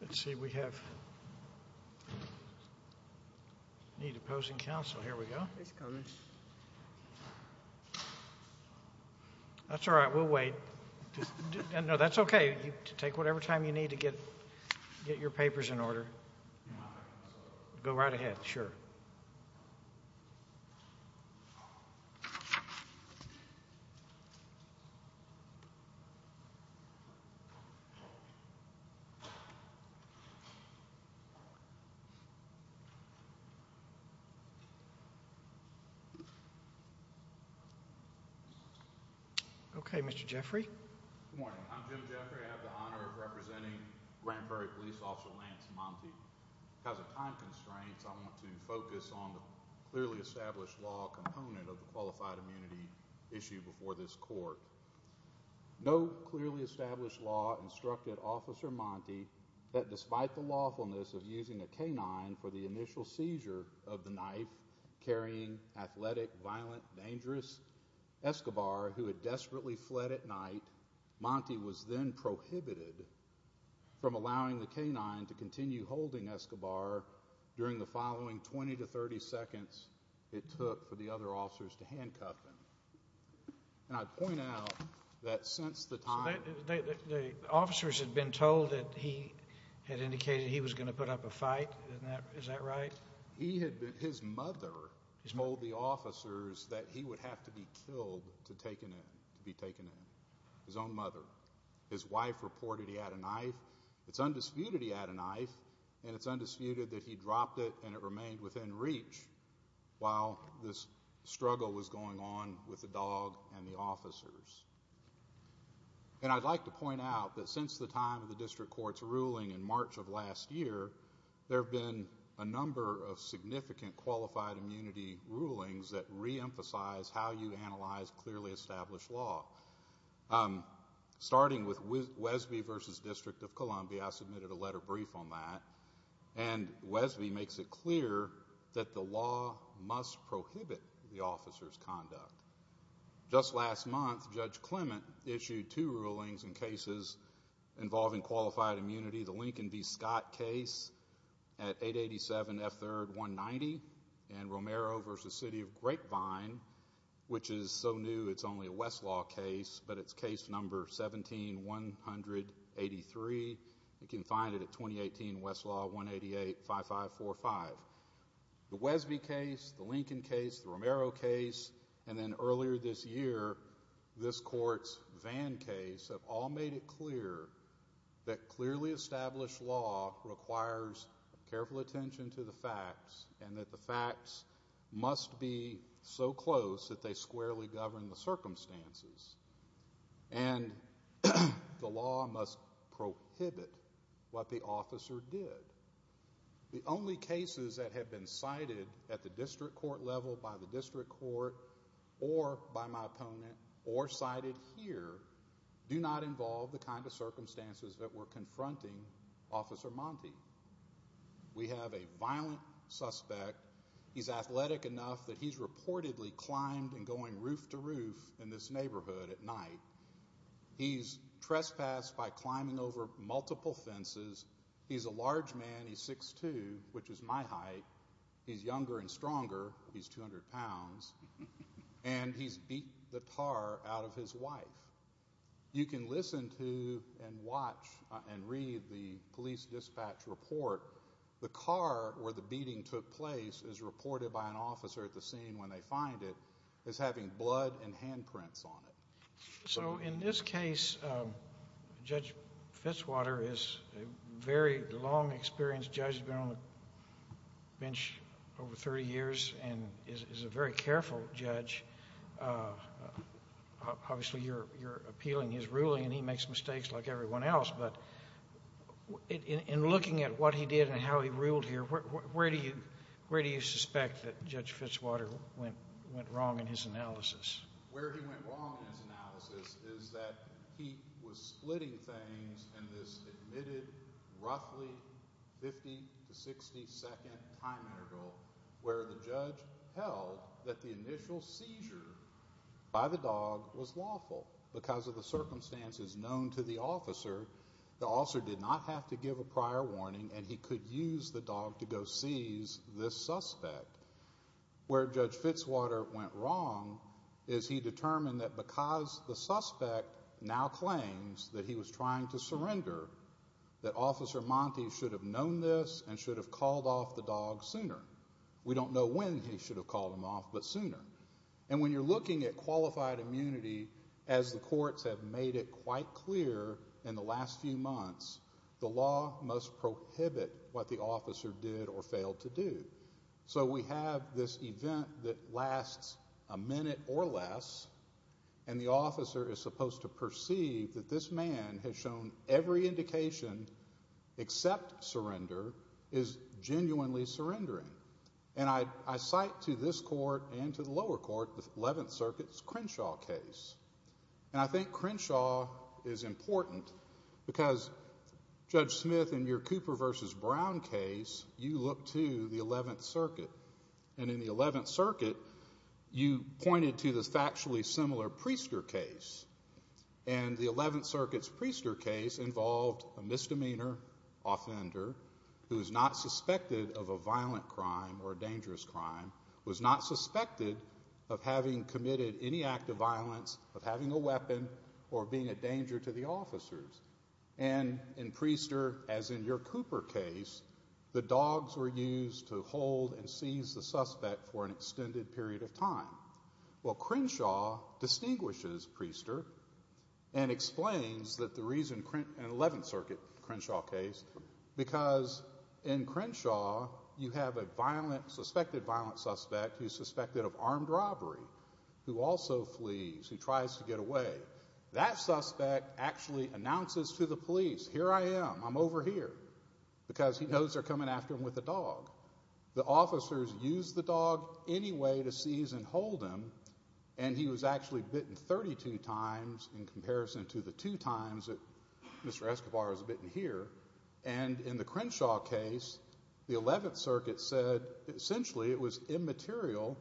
Let's see, we have need opposing counsel. Here we go. That's all right, we'll wait. No, that's okay. Take whatever time you need to get your papers in order. Go right ahead, sure. Okay, Mr. Jeffrey. Good morning, I'm Jim Jeffrey. I have the honor of representing Grand Prairie Police Officer Lance Montee. Because of time constraints, I want to focus on the clearly established law component of the qualified immunity issue before this court. No clearly established law instructed Officer Montee that despite the lawfulness of using a canine for the initial seizure of the knife carrying athletic, violent, dangerous Escobar who had desperately fled at night, Montee was then prohibited from allowing the canine to continue holding Escobar during the following 20 to 30 seconds it took for the other officers to handcuff him. And I point out that since the time... The officers had been told that he had indicated he was going to put up a fight, is that right? His mother told the officers that he would have to be killed to be taken in. His own mother. His wife reported he had a knife. It's undisputed he had a knife, and it's undisputed that he dropped it and it remained within reach while this struggle was going on with the dog and the officers. And I'd like to point out that since the time of the district court's ruling in March of last year, there have been a number of significant qualified immunity rulings that reemphasize how you analyze clearly established law. Starting with Wesby v. District of Columbia, I submitted a letter brief on that, and Wesby makes it clear that the law must prohibit the officer's conduct. Just last month, Judge Clement issued two rulings in cases involving qualified immunity. The Lincoln v. Scott case at 887 F. 3rd 190, and Romero v. City of Grapevine, which is so new it's only a Westlaw case, but it's case number 17183. You can find it at 2018 Westlaw 1885545. The Wesby case, the Lincoln case, the Romero case, and then earlier this year, this court's Vann case have all made it clear that clearly established law requires careful attention to the facts and that the facts must be so close that they squarely govern the circumstances, and the law must prohibit what the officer did. The only cases that have been cited at the district court level by the district court or by my opponent or cited here do not involve the kind of circumstances that we're confronting Officer Monte. We have a violent suspect. He's athletic enough that he's reportedly climbed and going roof to roof in this neighborhood at night. He's trespassed by climbing over multiple fences. He's a large man. He's 6'2", which is my height. He's younger and stronger. He's 200 pounds, and he's beat the tar out of his wife. You can listen to and watch and read the police dispatch report. The car where the beating took place is reported by an officer at the scene when they find it as having blood and handprints on it. So in this case, Judge Fitzwater is a very long-experienced judge. He's been on the bench over 30 years and is a very careful judge. Obviously, you're appealing his ruling, and he makes mistakes like everyone else, but in looking at what he did and how he ruled here, where do you suspect that Judge Fitzwater went wrong in his analysis? Where he went wrong in his analysis is that he was splitting things in this admitted roughly 50 to 60-second time interval where the judge held that the initial seizure by the dog was lawful because of the circumstances known to the officer. The officer did not have to give a prior warning, and he could use the dog to go seize this suspect. Where Judge Fitzwater went wrong is he determined that because the suspect now claims that he was trying to surrender, that Officer Monte should have known this and should have called off the dog sooner. We don't know when he should have called him off, but sooner. And when you're looking at qualified immunity, as the courts have made it quite clear in the last few months, the law must prohibit what the officer did or failed to do. So we have this event that lasts a minute or less, and the officer is supposed to perceive that this man has shown every indication except surrender is genuinely surrendering. And I cite to this court and to the lower court the Eleventh Circuit's Crenshaw case. And I think Crenshaw is important because, Judge Smith, in your Cooper v. Brown case, you look to the Eleventh Circuit. And in the Eleventh Circuit, you pointed to the factually similar Priester case. And the Eleventh Circuit's Priester case involved a misdemeanor offender who is not suspected of a violent crime or a dangerous crime, was not suspected of having committed any act of violence, of having a weapon, or being a danger to the officers. And in Priester, as in your Cooper case, the dogs were used to hold and seize the suspect for an extended period of time. Well, Crenshaw distinguishes Priester and explains that the reason an Eleventh Circuit Crenshaw case, because in Crenshaw you have a suspected violent suspect who is suspected of armed robbery, who also flees, who tries to get away. That suspect actually announces to the police, here I am, I'm over here, because he knows they're coming after him with a dog. The officers use the dog anyway to seize and hold him. And he was actually bitten 32 times in comparison to the two times that Mr. Escobar was bitten here. And in the Crenshaw case, the Eleventh Circuit said, essentially it was immaterial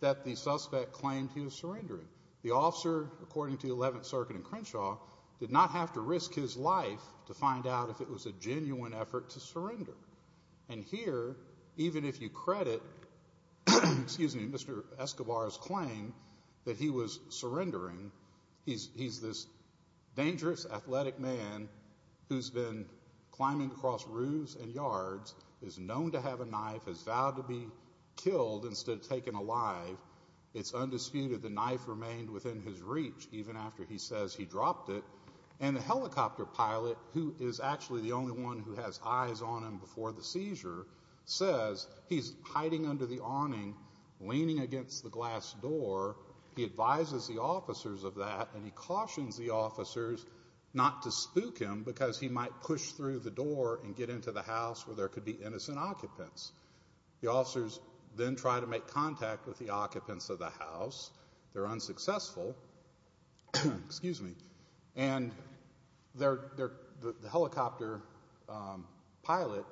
that the suspect claimed he was surrendering. The officer, according to the Eleventh Circuit in Crenshaw, did not have to risk his life to find out if it was a genuine effort to surrender. And here, even if you credit Mr. Escobar's claim that he was surrendering, he's this dangerous athletic man who's been climbing across roofs and yards, is known to have a knife, has vowed to be killed instead of taken alive. It's undisputed the knife remained within his reach even after he says he dropped it. And the helicopter pilot, who is actually the only one who has eyes on him before the seizure, says he's hiding under the awning, leaning against the glass door. He advises the officers of that, and he cautions the officers not to spook him because he might push through the door and get into the house where there could be innocent occupants. The officers then try to make contact with the occupants of the house. They're unsuccessful, and the helicopter pilot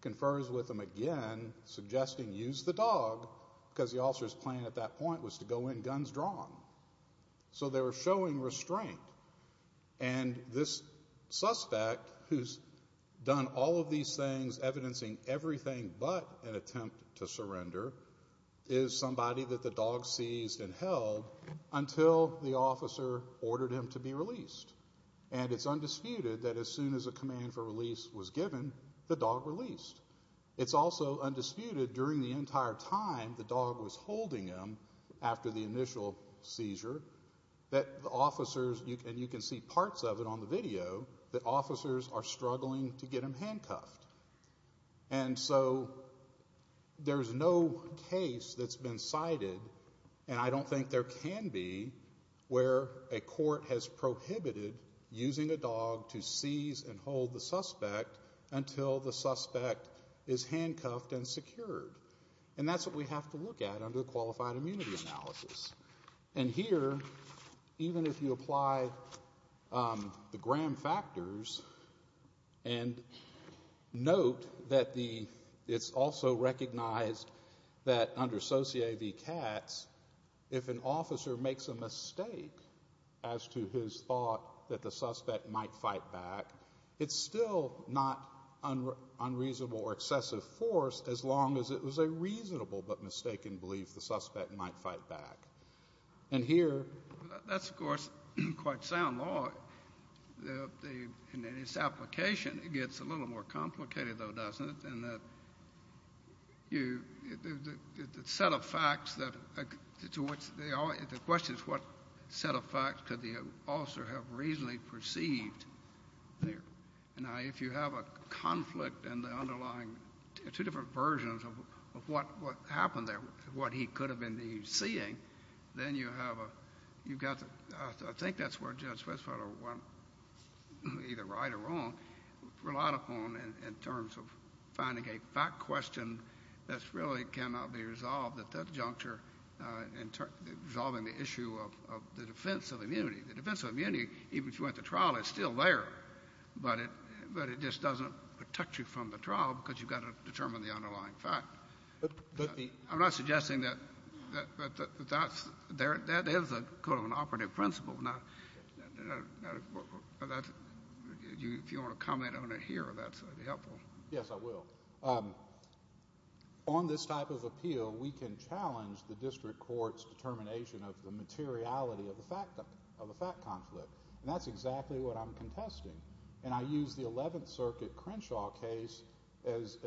confers with them again, suggesting use the dog because the officer's plan at that point was to go in guns drawn. So they were showing restraint. And this suspect, who's done all of these things, evidencing everything but an attempt to surrender, is somebody that the dog seized and held until the officer ordered him to be released. And it's undisputed that as soon as a command for release was given, the dog released. It's also undisputed during the entire time the dog was holding him after the initial seizure that the officers, and you can see parts of it on the video, that officers are struggling to get him handcuffed. And so there's no case that's been cited, and I don't think there can be, where a court has prohibited using a dog to seize and hold the suspect until the suspect is handcuffed and secured. And that's what we have to look at under qualified immunity analysis. And here, even if you apply the Graham factors and note that it's also recognized that under Society of the Cats, if an officer makes a mistake as to his thought that the suspect might fight back, it's still not unreasonable or excessive force as long as it was a reasonable but mistaken belief the suspect might fight back. And here... That's, of course, quite sound law. In its application, it gets a little more complicated, though, doesn't it, in that the set of facts that to which the question is what set of facts could the officer have reasonably perceived there. Now, if you have a conflict in the underlying two different versions of what happened there, what he could have been seeing, then you have a... I think that's where Judge Fitzpatrick went either right or wrong, relied upon in terms of finding a fact question that really cannot be resolved at that juncture in resolving the issue of the defense of immunity. The defense of immunity, even if you went to trial, is still there, but it just doesn't protect you from the trial because you've got to determine the underlying fact. I'm not suggesting that that is an operative principle. If you want to comment on it here, that's helpful. Yes, I will. On this type of appeal, we can challenge the district court's determination of the materiality of a fact conflict, and that's exactly what I'm contesting. I use the 11th Circuit Crenshaw case as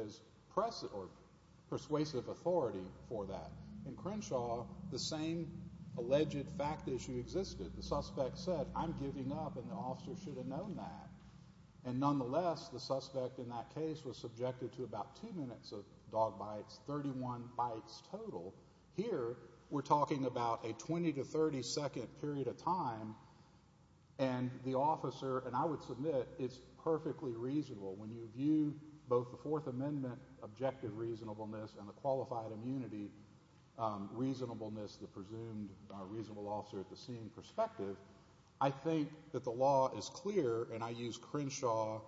persuasive authority for that. In Crenshaw, the same alleged fact issue existed. The suspect said, I'm giving up, and the officer should have known that. Nonetheless, the suspect in that case was subjected to about two minutes of dog bites, 31 bites total. Here, we're talking about a 20 to 30 second period of time, and the officer, and I would submit it's perfectly reasonable. When you view both the Fourth Amendment objective reasonableness and the qualified immunity reasonableness, the presumed reasonable officer at the scene perspective, I think that the law is clear, and I use Crenshaw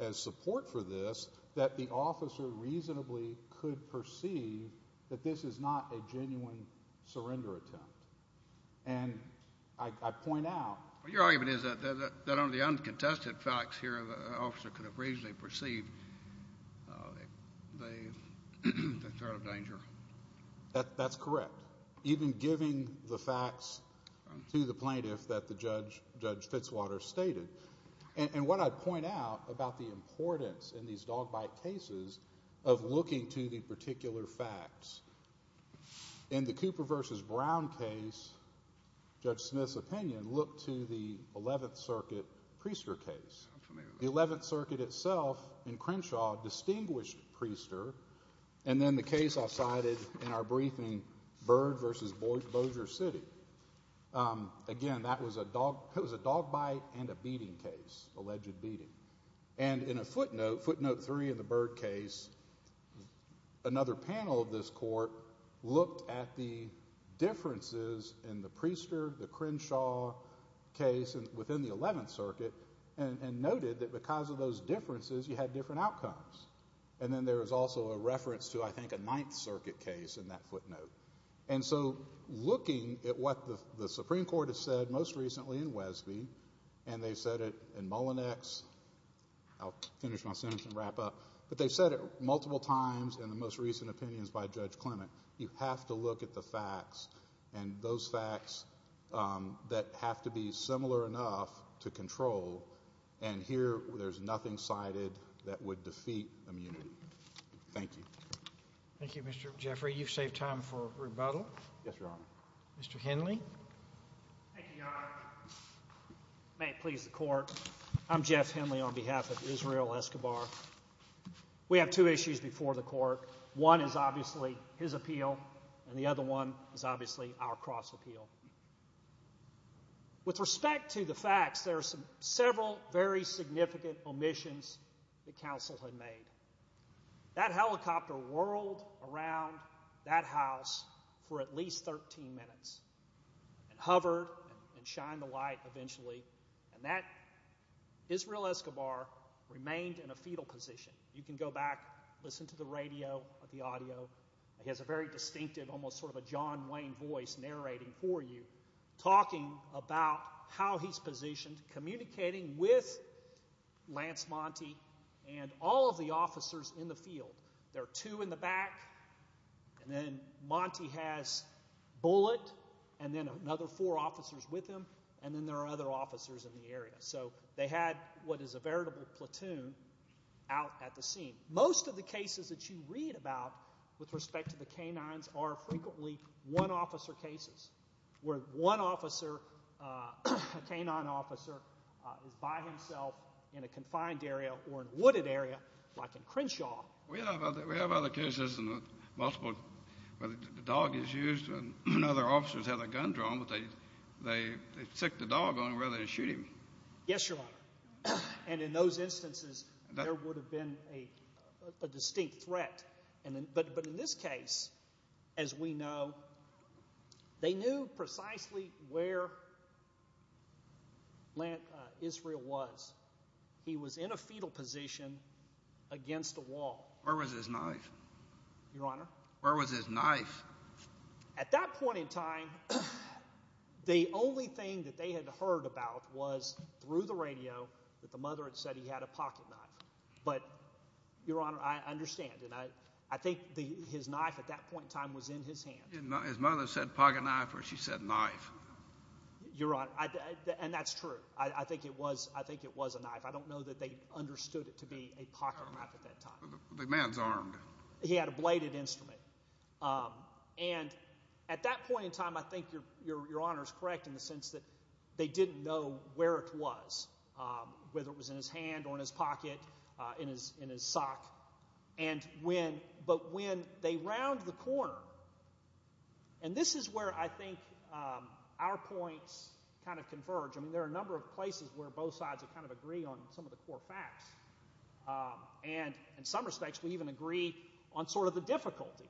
as support for this, that the officer reasonably could perceive that this is not a genuine surrender attempt. And I point out. Your argument is that under the uncontested facts here, the officer could have reasonably perceived the threat of danger. That's correct, even giving the facts to the plaintiff that Judge Fitzwater stated. And what I point out about the importance in these dog bite cases of looking to the particular facts. In the Cooper v. Brown case, Judge Smith's opinion, look to the 11th Circuit Priester case. The 11th Circuit itself in Crenshaw distinguished Priester, and then the case I cited in our briefing, Bird v. Bossier City. Again, that was a dog bite and a beating case, alleged beating. And in a footnote, footnote three in the Bird case, another panel of this court looked at the differences in the Priester, the Crenshaw case within the 11th Circuit and noted that because of those differences, you had different outcomes. And then there was also a reference to, I think, a 9th Circuit case in that footnote. And so looking at what the Supreme Court has said most recently in Wesby, and they've said it in Mullinex. I'll finish my sentence and wrap up. But they've said it multiple times in the most recent opinions by Judge Clement. You have to look at the facts and those facts that have to be similar enough to control. And here there's nothing cited that would defeat immunity. Thank you. Thank you, Mr. Jeffrey. You've saved time for rebuttal. Yes, Your Honor. Mr. Henley. Thank you, Your Honor. May it please the Court. I'm Jeff Henley on behalf of Israel Escobar. We have two issues before the Court. One is obviously his appeal, and the other one is obviously our cross-appeal. With respect to the facts, there are several very significant omissions that counsel had made. That helicopter whirled around that house for at least 13 minutes and hovered and shined the light eventually. And that Israel Escobar remained in a fetal position. You can go back, listen to the radio, the audio. He has a very distinctive, almost sort of a John Wayne voice narrating for you, talking about how he's positioned, communicating with Lance Monty and all of the officers in the field. There are two in the back, and then Monty has Bullitt, and then another four officers with him, and then there are other officers in the area. So they had what is a veritable platoon out at the scene. Most of the cases that you read about with respect to the canines are frequently one-officer cases where one officer, a canine officer, is by himself in a confined area or a wooded area like in Crenshaw. We have other cases where the dog is used and other officers have the gun drawn, but they stick the dog on where they shoot him. Yes, Your Honor. And in those instances, there would have been a distinct threat. But in this case, as we know, they knew precisely where Israel was. He was in a fetal position against a wall. Where was his knife? Your Honor? Where was his knife? At that point in time, the only thing that they had heard about was through the radio that the mother had said he had a pocketknife. But, Your Honor, I understand, and I think his knife at that point in time was in his hand. His mother said pocketknife or she said knife. Your Honor, and that's true. I think it was a knife. I don't know that they understood it to be a pocketknife at that time. The man's armed. He had a bladed instrument. And at that point in time, I think Your Honor is correct in the sense that they didn't know where it was, whether it was in his hand or in his pocket, in his sock. But when they round the corner, and this is where I think our points kind of converge. I mean, there are a number of places where both sides kind of agree on some of the core facts. And in some respects, we even agree on sort of the difficulty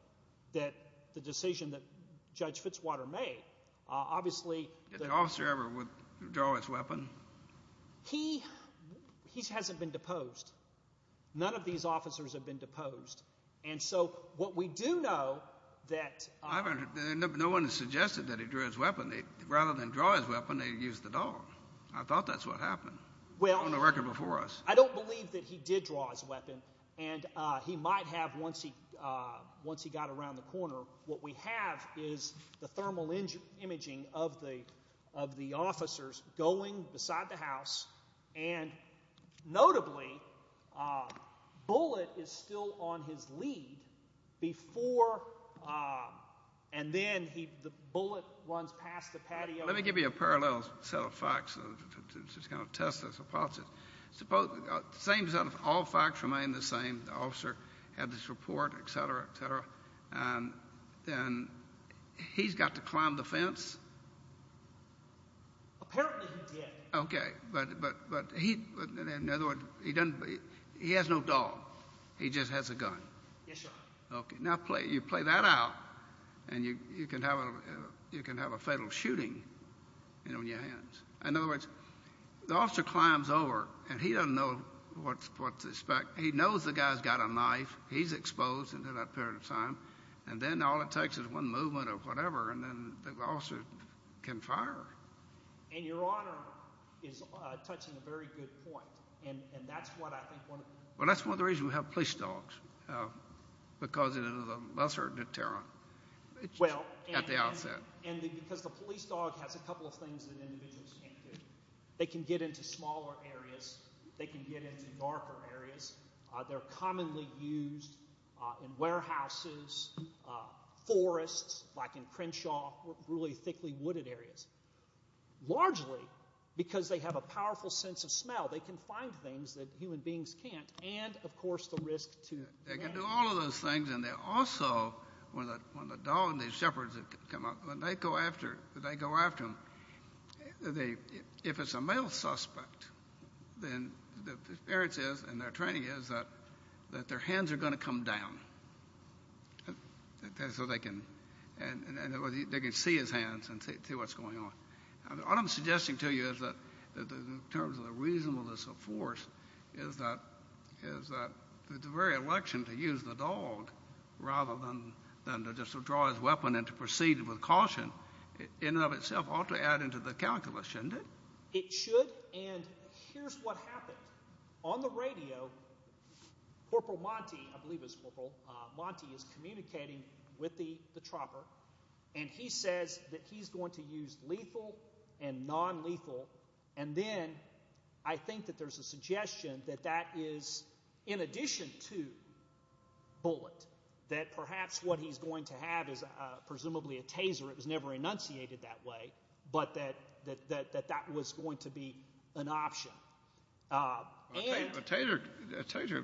that the decision that Judge Fitzwater made. Obviously, the officer ever would draw his weapon? He hasn't been deposed. None of these officers have been deposed. And so what we do know that— No one has suggested that he drew his weapon. Rather than draw his weapon, they used the dog. I thought that's what happened on the record before us. I don't believe that he did draw his weapon. And he might have once he got around the corner. What we have is the thermal imaging of the officers going beside the house. And notably, Bullitt is still on his lead before—and then Bullitt runs past the patio. Let me give you a parallel set of facts to just kind of test this. I apologize. The same set of all facts remain the same. The officer had this report, et cetera, et cetera. And he's got to climb the fence? Apparently he did. Okay. But he—in other words, he doesn't—he has no dog. He just has a gun. Yes, sir. Okay. Now you play that out, and you can have a fatal shooting on your hands. In other words, the officer climbs over, and he doesn't know what to expect. He knows the guy's got a knife. He's exposed in that period of time. And then all it takes is one movement or whatever, and then the officer can fire. And Your Honor is touching a very good point, and that's what I think one of the— Well, that's one of the reasons we have police dogs, because it is a lesser deterrent at the outset. And because the police dog has a couple of things that individuals can't do. They can get into smaller areas. They can get into darker areas. They're commonly used in warehouses, forests, like in Crenshaw, really thickly wooded areas. Largely because they have a powerful sense of smell. They can find things that human beings can't. And, of course, the risk to— They can do all of those things. And they also, when the dog and the shepherds come up, when they go after them, if it's a male suspect, then the experience is and their training is that their hands are going to come down. And so they can see his hands and see what's going on. What I'm suggesting to you is that in terms of the reasonableness of force is that the very election to use the dog rather than to just withdraw his weapon and to proceed with caution in and of itself ought to add into the calculus, shouldn't it? It should, and here's what happened. On the radio, Corporal Monti, I believe it was Corporal Monti, is communicating with the chopper, and he says that he's going to use lethal and nonlethal, and then I think that there's a suggestion that that is in addition to bullet, that perhaps what he's going to have is presumably a taser. It was never enunciated that way, but that that was going to be an option. A taser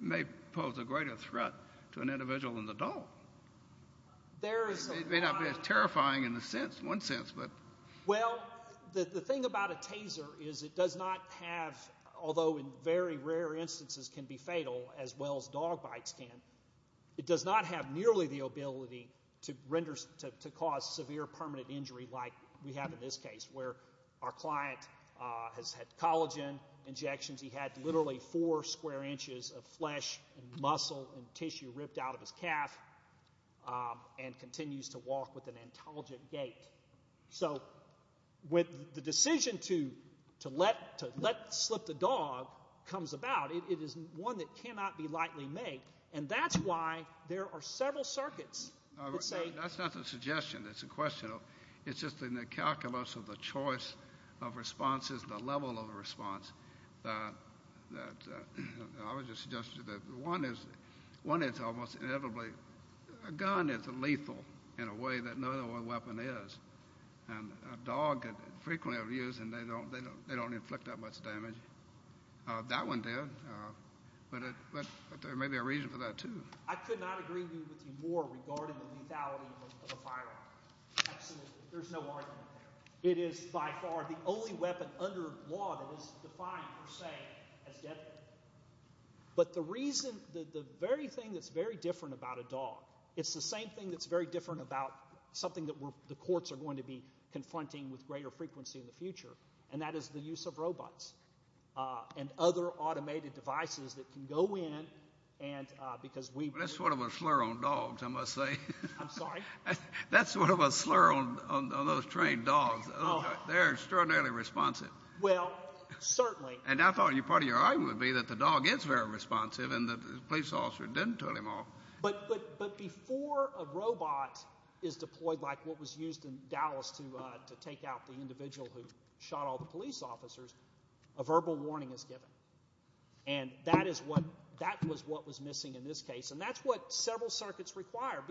may pose a greater threat to an individual than the dog. It may not be as terrifying in one sense. Well, the thing about a taser is it does not have, although in very rare instances can be fatal, as well as dog bites can, it does not have nearly the ability to cause severe permanent injury like we have in this case where our client has had collagen injections. He had literally four square inches of flesh and muscle and tissue ripped out of his calf and continues to walk with an intelligent gait. So with the decision to let slip the dog comes about. It is one that cannot be lightly made, and that's why there are several circuits that say. That's not a suggestion. It's a question of it's just in the calculus of the choice of responses, the level of response. I was just suggesting that one is almost inevitably a gun is lethal in a way that no other weapon is, and a dog frequently over the years, and they don't inflict that much damage. That one did, but there may be a reason for that too. I could not agree with you more regarding the lethality of a firearm. Absolutely. There's no argument there. It is by far the only weapon under law that is defined per se as deadly. But the reason that the very thing that's very different about a dog, it's the same thing that's very different about something that the courts are going to be confronting with greater frequency in the future, and that is the use of robots and other automated devices that can go in. That's sort of a slur on dogs, I must say. I'm sorry? That's sort of a slur on those trained dogs. They're extraordinarily responsive. Well, certainly. And I thought part of your argument would be that the dog is very responsive and the police officer didn't turn him off. But before a robot is deployed like what was used in Dallas to take out the individual who shot all the police officers, a verbal warning is given. And that is what was missing in this case, and that's what several circuits require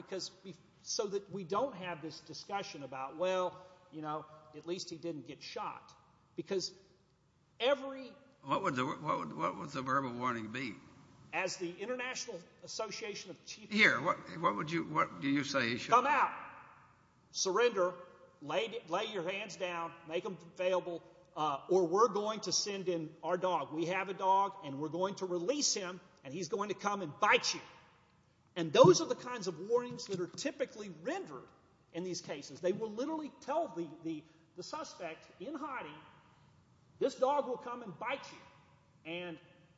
so that we don't have this discussion about, well, you know, at least he didn't get shot. What would the verbal warning be? As the International Association of Chiefs. Here, what do you say? Come out, surrender, lay your hands down, make them available, or we're going to send in our dog. We have a dog, and we're going to release him, and he's going to come and bite you. And those are the kinds of warnings that are typically rendered in these cases. They will literally tell the suspect in hiding, this dog will come and bite you. And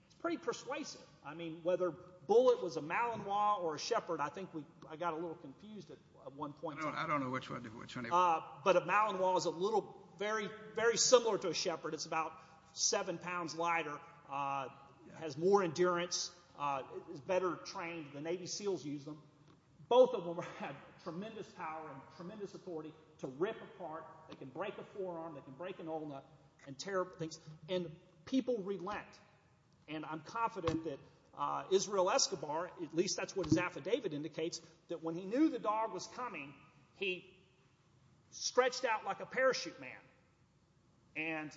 it's pretty persuasive. I mean, whether Bullitt was a Malinois or a Shepherd, I think I got a little confused at one point. I don't know which one. But a Malinois is a little very similar to a Shepherd. It's about seven pounds lighter, has more endurance, is better trained. The Navy SEALs use them. Both of them have tremendous power and tremendous authority to rip apart. They can break a forearm. They can break an ulna and tear up things. And people relent. And I'm confident that Israel Escobar, at least that's what his affidavit indicates, that when he knew the dog was coming, he stretched out like a parachute man.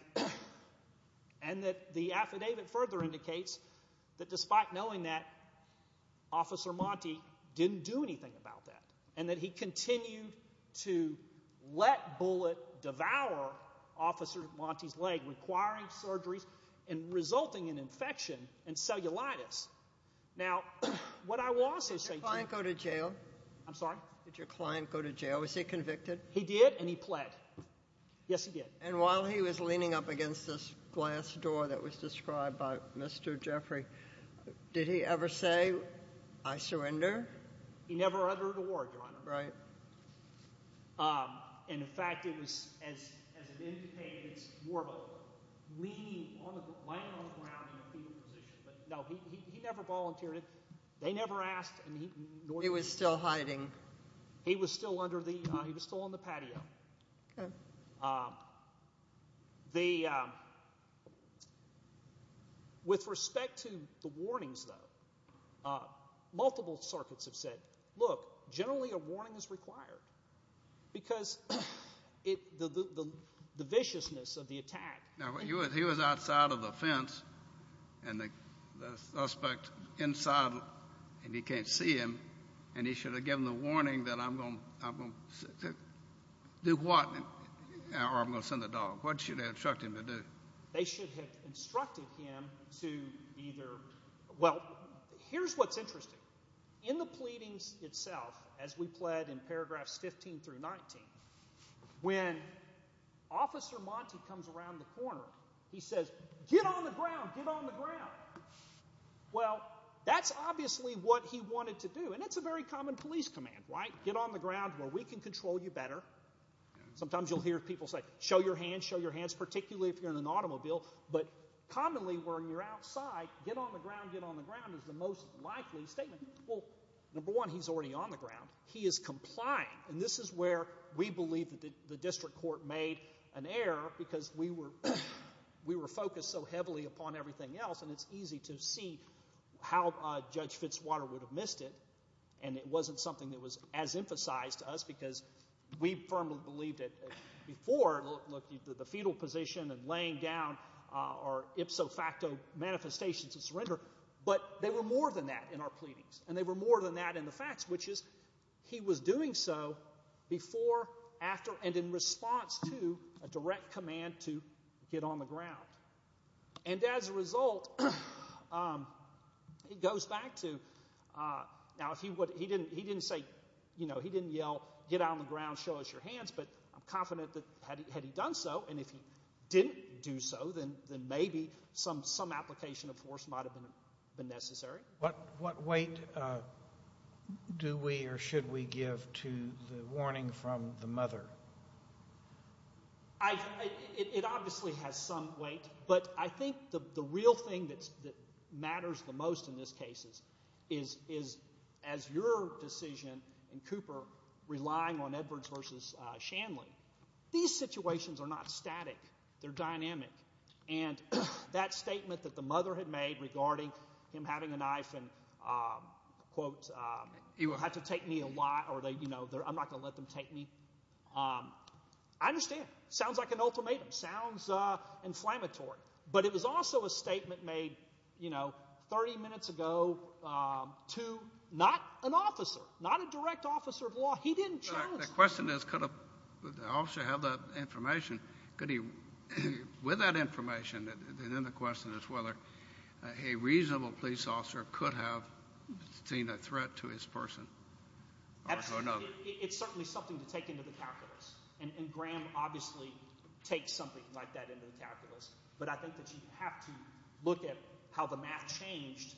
And the affidavit further indicates that despite knowing that, Officer Monti didn't do anything about that and that he continued to let Bullitt devour Officer Monti's leg, requiring surgeries and resulting in infection and cellulitis. Now, what I will also say to you— Did your client go to jail? I'm sorry? Did your client go to jail? Was he convicted? He did, and he pled. Yes, he did. And while he was leaning up against this glass door that was described by Mr. Jeffrey, did he ever say, I surrender? He never uttered a word, Your Honor. Right. And, in fact, it was as it indicated, it's more of a leaning, lying on the ground in a fetal position. But, no, he never volunteered. They never asked. He was still hiding. He was still under the—he was still on the patio. Okay. The—with respect to the warnings, though, multiple circuits have said, look, generally a warning is required because the viciousness of the attack— Now, he was outside of the fence, and the suspect inside, and he can't see him, and he should have given the warning that I'm going to do what? Or I'm going to send the dog. What should have instructed him to do? They should have instructed him to either—well, here's what's interesting. In the pleadings itself, as we pled in paragraphs 15 through 19, when Officer Monte comes around the corner, he says, get on the ground, get on the ground. Well, that's obviously what he wanted to do, and it's a very common police command, right? Get on the ground where we can control you better. Sometimes you'll hear people say, show your hands, show your hands, particularly if you're in an automobile, but commonly when you're outside, get on the ground, get on the ground is the most likely statement. Well, number one, he's already on the ground. He is complying, and this is where we believe that the district court made an error because we were focused so heavily upon everything else, and it's easy to see how Judge Fitzwater would have missed it, and it wasn't something that was as emphasized to us because we firmly believed it before. Look, the fetal position and laying down are ipso facto manifestations of surrender, but they were more than that in our pleadings, and they were more than that in the facts, which is he was doing so before, after, and in response to a direct command to get on the ground. And as a result, it goes back to, now he didn't say, you know, he didn't yell, get on the ground, show us your hands, but I'm confident that had he done so, and if he didn't do so, then maybe some application of force might have been necessary. What weight do we or should we give to the warning from the mother? It obviously has some weight, but I think the real thing that matters the most in this case is as your decision in Cooper relying on Edwards versus Shanley, these situations are not static. They're dynamic, and that statement that the mother had made regarding him having a knife and, quote, had to take me a lot or, you know, I'm not going to let them take me, I understand. It sounds like an ultimatum. It sounds inflammatory, but it was also a statement made, you know, 30 minutes ago to not an officer, not a direct officer of law. He didn't challenge that. My question is could an officer have that information? With that information, then the question is whether a reasonable police officer could have seen a threat to his person or another. It's certainly something to take into the calculus, and Graham obviously takes something like that into the calculus, but I think that you have to look at how the math changed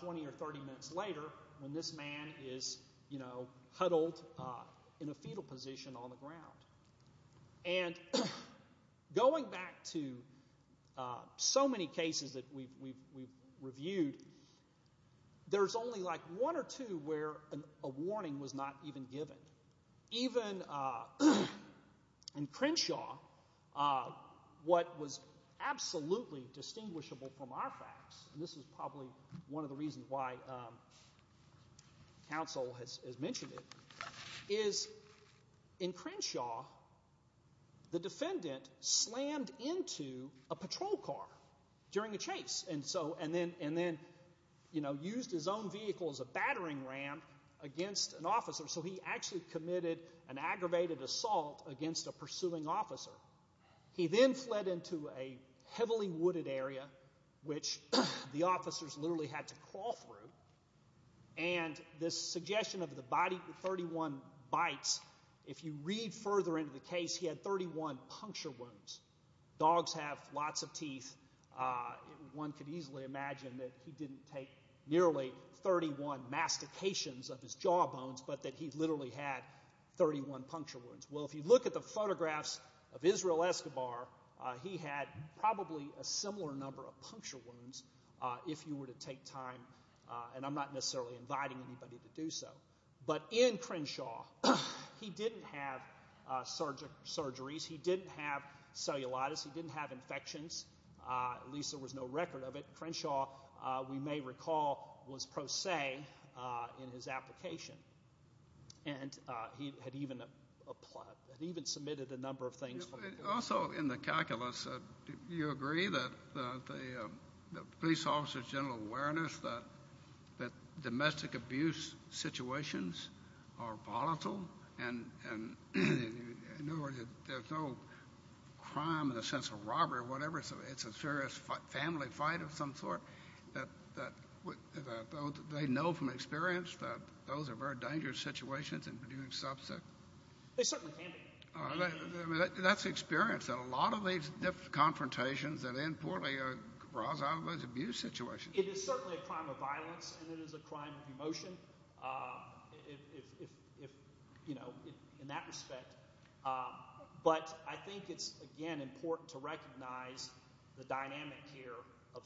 20 or 30 minutes later when this man is, you know, huddled in a fetal position on the ground. And going back to so many cases that we've reviewed, there's only like one or two where a warning was not even given. Even in Crenshaw, what was absolutely distinguishable from our facts, and this is probably one of the reasons why counsel has mentioned it, is in Crenshaw the defendant slammed into a patrol car during a chase and then used his own vehicle as a battering ram against an officer, so he actually committed an aggravated assault against a pursuing officer. He then fled into a heavily wooded area, which the officers literally had to crawl through, and the suggestion of the 31 bites, if you read further into the case, he had 31 puncture wounds. Dogs have lots of teeth. One could easily imagine that he didn't take nearly 31 mastications of his jaw bones, but that he literally had 31 puncture wounds. Well, if you look at the photographs of Israel Escobar, he had probably a similar number of puncture wounds if you were to take time, and I'm not necessarily inviting anybody to do so. But in Crenshaw, he didn't have surgeries. He didn't have cellulitis. He didn't have infections. At least there was no record of it. Crenshaw, we may recall, was pro se in his application. And he had even submitted a number of things. Also in the calculus, do you agree that the police officer's general awareness that domestic abuse situations are volatile and there's no crime in the sense of robbery or whatever, it's a serious family fight of some sort, that they know from experience that those are very dangerous situations in producing substance? They certainly can be. That's the experience that a lot of these different confrontations that end poorly draws out of those abuse situations. It is certainly a crime of violence, and it is a crime of emotion in that respect. But I think it's, again, important to recognize the dynamic here of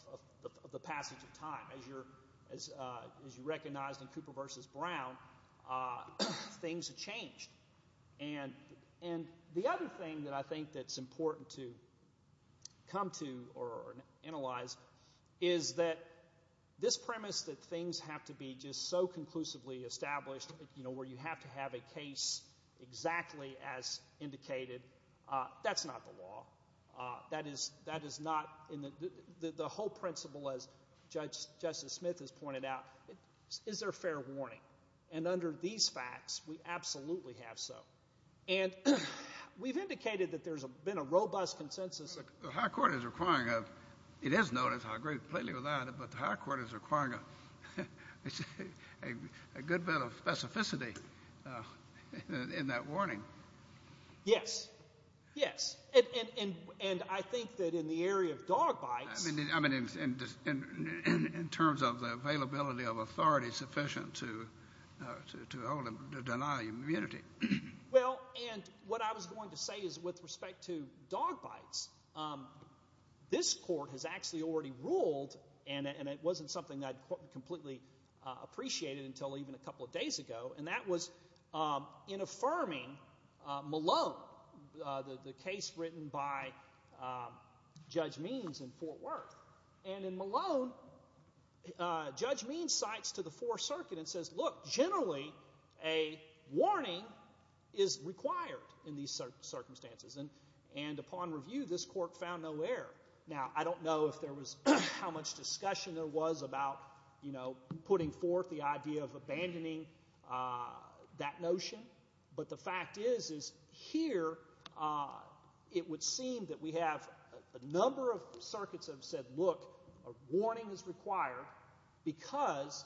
the passage of time. As you recognized in Cooper v. Brown, things have changed. And the other thing that I think that's important to come to or analyze is that this premise that things have to be just so conclusively established, you know, where you have to have a case exactly as indicated, that's not the law. That is not in the whole principle, as Justice Smith has pointed out. Is there fair warning? And under these facts, we absolutely have so. And we've indicated that there's been a robust consensus. The high court is requiring a—it is known, and I agree completely with that, but the high court is requiring a good bit of specificity in that warning. Yes, yes. And I think that in the area of dog bites— I mean in terms of the availability of authority sufficient to deny immunity. Well, and what I was going to say is with respect to dog bites, this court has actually already ruled, and it wasn't something that I'd completely appreciated until even a couple of days ago, and that was in affirming Malone, the case written by Judge Means in Fort Worth. And in Malone, Judge Means cites to the Fourth Circuit and says, look, generally a warning is required in these circumstances. And upon review, this court found no error. Now, I don't know if there was—how much discussion there was about, you know, putting forth the idea of abandoning that notion, but the fact is is here it would seem that we have a number of circuits that have said, look, a warning is required because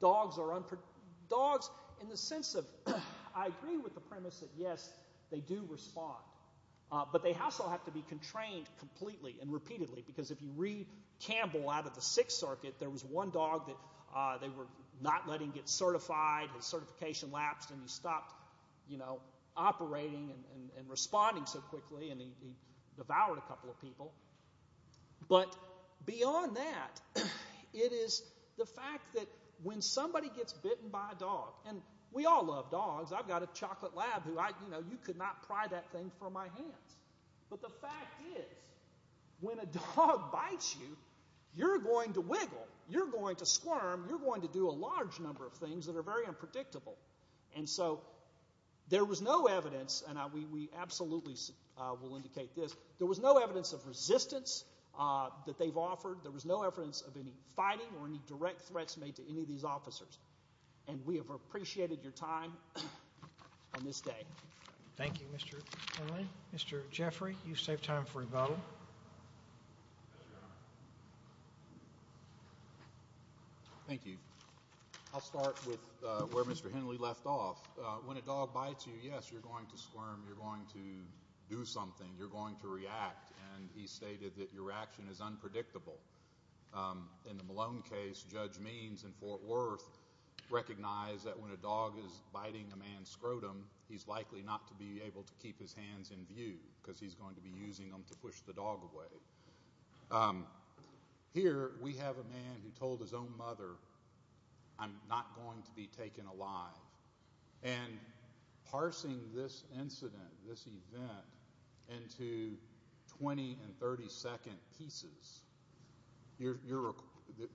dogs are—dogs in the sense of— I agree with the premise that, yes, they do respond, but they also have to be contrained completely and repeatedly because if you read Campbell out of the Sixth Circuit, there was one dog that they were not letting get certified. His certification lapsed and he stopped operating and responding so quickly and he devoured a couple of people. But beyond that, it is the fact that when somebody gets bitten by a dog, and we all love dogs. I've got a chocolate lab who, you know, you could not pry that thing from my hands. But the fact is when a dog bites you, you're going to wiggle. You're going to squirm. You're going to do a large number of things that are very unpredictable. And so there was no evidence, and we absolutely will indicate this, there was no evidence of resistance that they've offered. There was no evidence of any fighting or any direct threats made to any of these officers. And we have appreciated your time on this day. Thank you, Mr. Henley. Mr. Jeffrey, you saved time for rebuttal. Thank you. I'll start with where Mr. Henley left off. When a dog bites you, yes, you're going to squirm. You're going to do something. You're going to react. And he stated that your action is unpredictable. In the Malone case, Judge Means in Fort Worth recognized that when a dog is biting a man's scrotum, he's likely not to be able to keep his hands in view because he's going to be using them to push the dog away. Here we have a man who told his own mother, I'm not going to be taken alive. And parsing this incident, this event, into 20- and 30-second pieces, the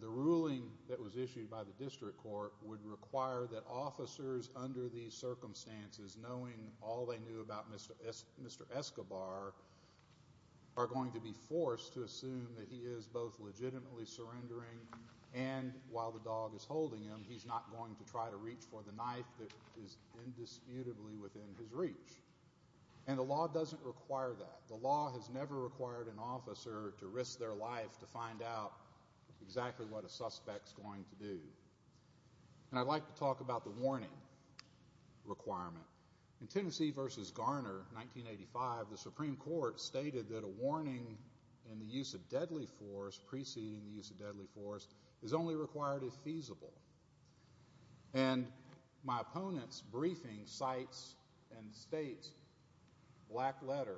ruling that was issued by the district court would require that officers under these circumstances, knowing all they knew about Mr. Escobar, are going to be forced to assume that he is both legitimately surrendering and while the dog is holding him, that he's not going to try to reach for the knife that is indisputably within his reach. And the law doesn't require that. The law has never required an officer to risk their life to find out exactly what a suspect is going to do. And I'd like to talk about the warning requirement. In Tennessee v. Garner, 1985, the Supreme Court stated that a warning in the use of deadly force, preceding the use of deadly force, is only required if feasible. And my opponent's briefing cites and states, black letter,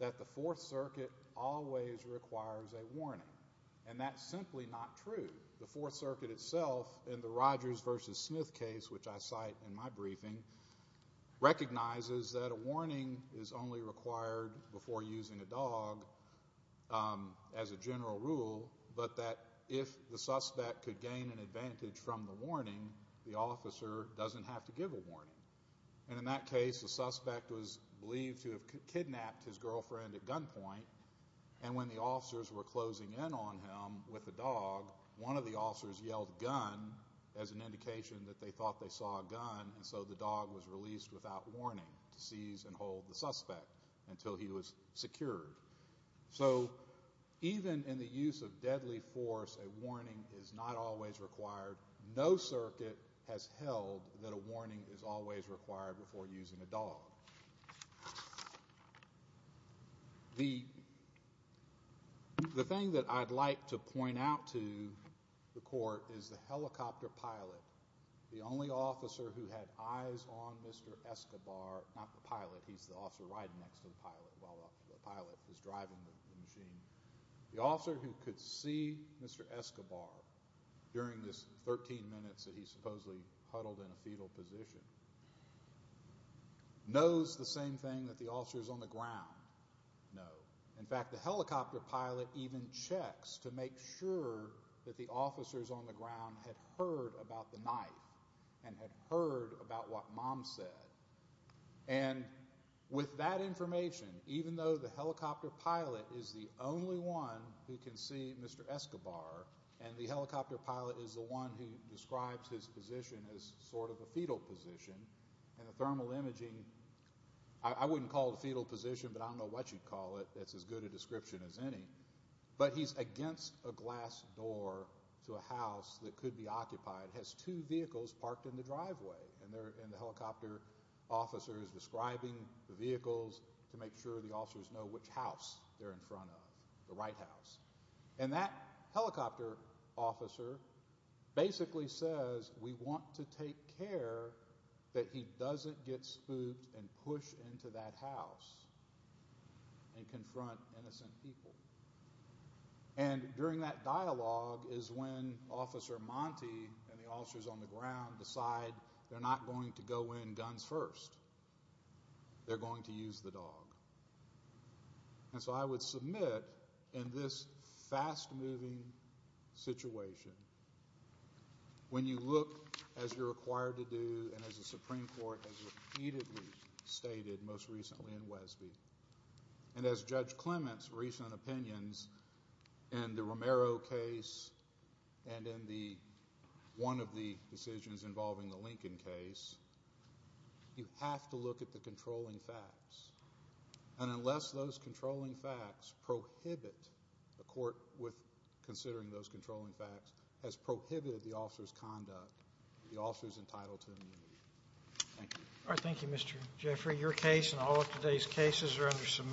that the Fourth Circuit always requires a warning. And that's simply not true. The Fourth Circuit itself, in the Rogers v. Smith case, which I cite in my briefing, recognizes that a warning is only required before using a dog as a general rule, but that if the suspect could gain an advantage from the warning, the officer doesn't have to give a warning. And in that case, the suspect was believed to have kidnapped his girlfriend at gunpoint, and when the officers were closing in on him with the dog, one of the officers yelled, gun, as an indication that they thought they saw a gun, and so the dog was released without warning to seize and hold the suspect until he was secured. So even in the use of deadly force, a warning is not always required. No circuit has held that a warning is always required before using a dog. The thing that I'd like to point out to the Court is the helicopter pilot, the only officer who had eyes on Mr. Escobar, not the pilot, he's the officer riding next to the pilot, while the pilot is driving the machine, the officer who could see Mr. Escobar during this 13 minutes that he supposedly huddled in a fetal position knows the same thing that the officers on the ground know. In fact, the helicopter pilot even checks to make sure that the officers on the ground had heard about the knife and had heard about what Mom said. And with that information, even though the helicopter pilot is the only one who can see Mr. Escobar, and the helicopter pilot is the one who describes his position as sort of a fetal position, and the thermal imaging, I wouldn't call it a fetal position, but I don't know what you'd call it, it's as good a description as any, but he's against a glass door to a house that could be occupied, has two vehicles parked in the driveway, and the helicopter officer is describing the vehicles to make sure the officers know which house they're in front of, the right house. And that helicopter officer basically says, we want to take care that he doesn't get spooked and push into that house and confront innocent people. And during that dialogue is when Officer Monte and the officers on the ground decide they're not going to go in guns first, they're going to use the dog. And so I would submit, in this fast-moving situation, when you look, as you're required to do, and as the Supreme Court has repeatedly stated, most recently in Wesby, and as Judge Clement's recent opinions in the Romero case and in one of the decisions involving the Lincoln case, you have to look at the controlling facts. And unless those controlling facts prohibit, the court, considering those controlling facts, has prohibited the officer's conduct, the officer's entitled to immunity. Thank you. All right, thank you, Mr. Jeffrey. Your case and all of today's cases are under submission.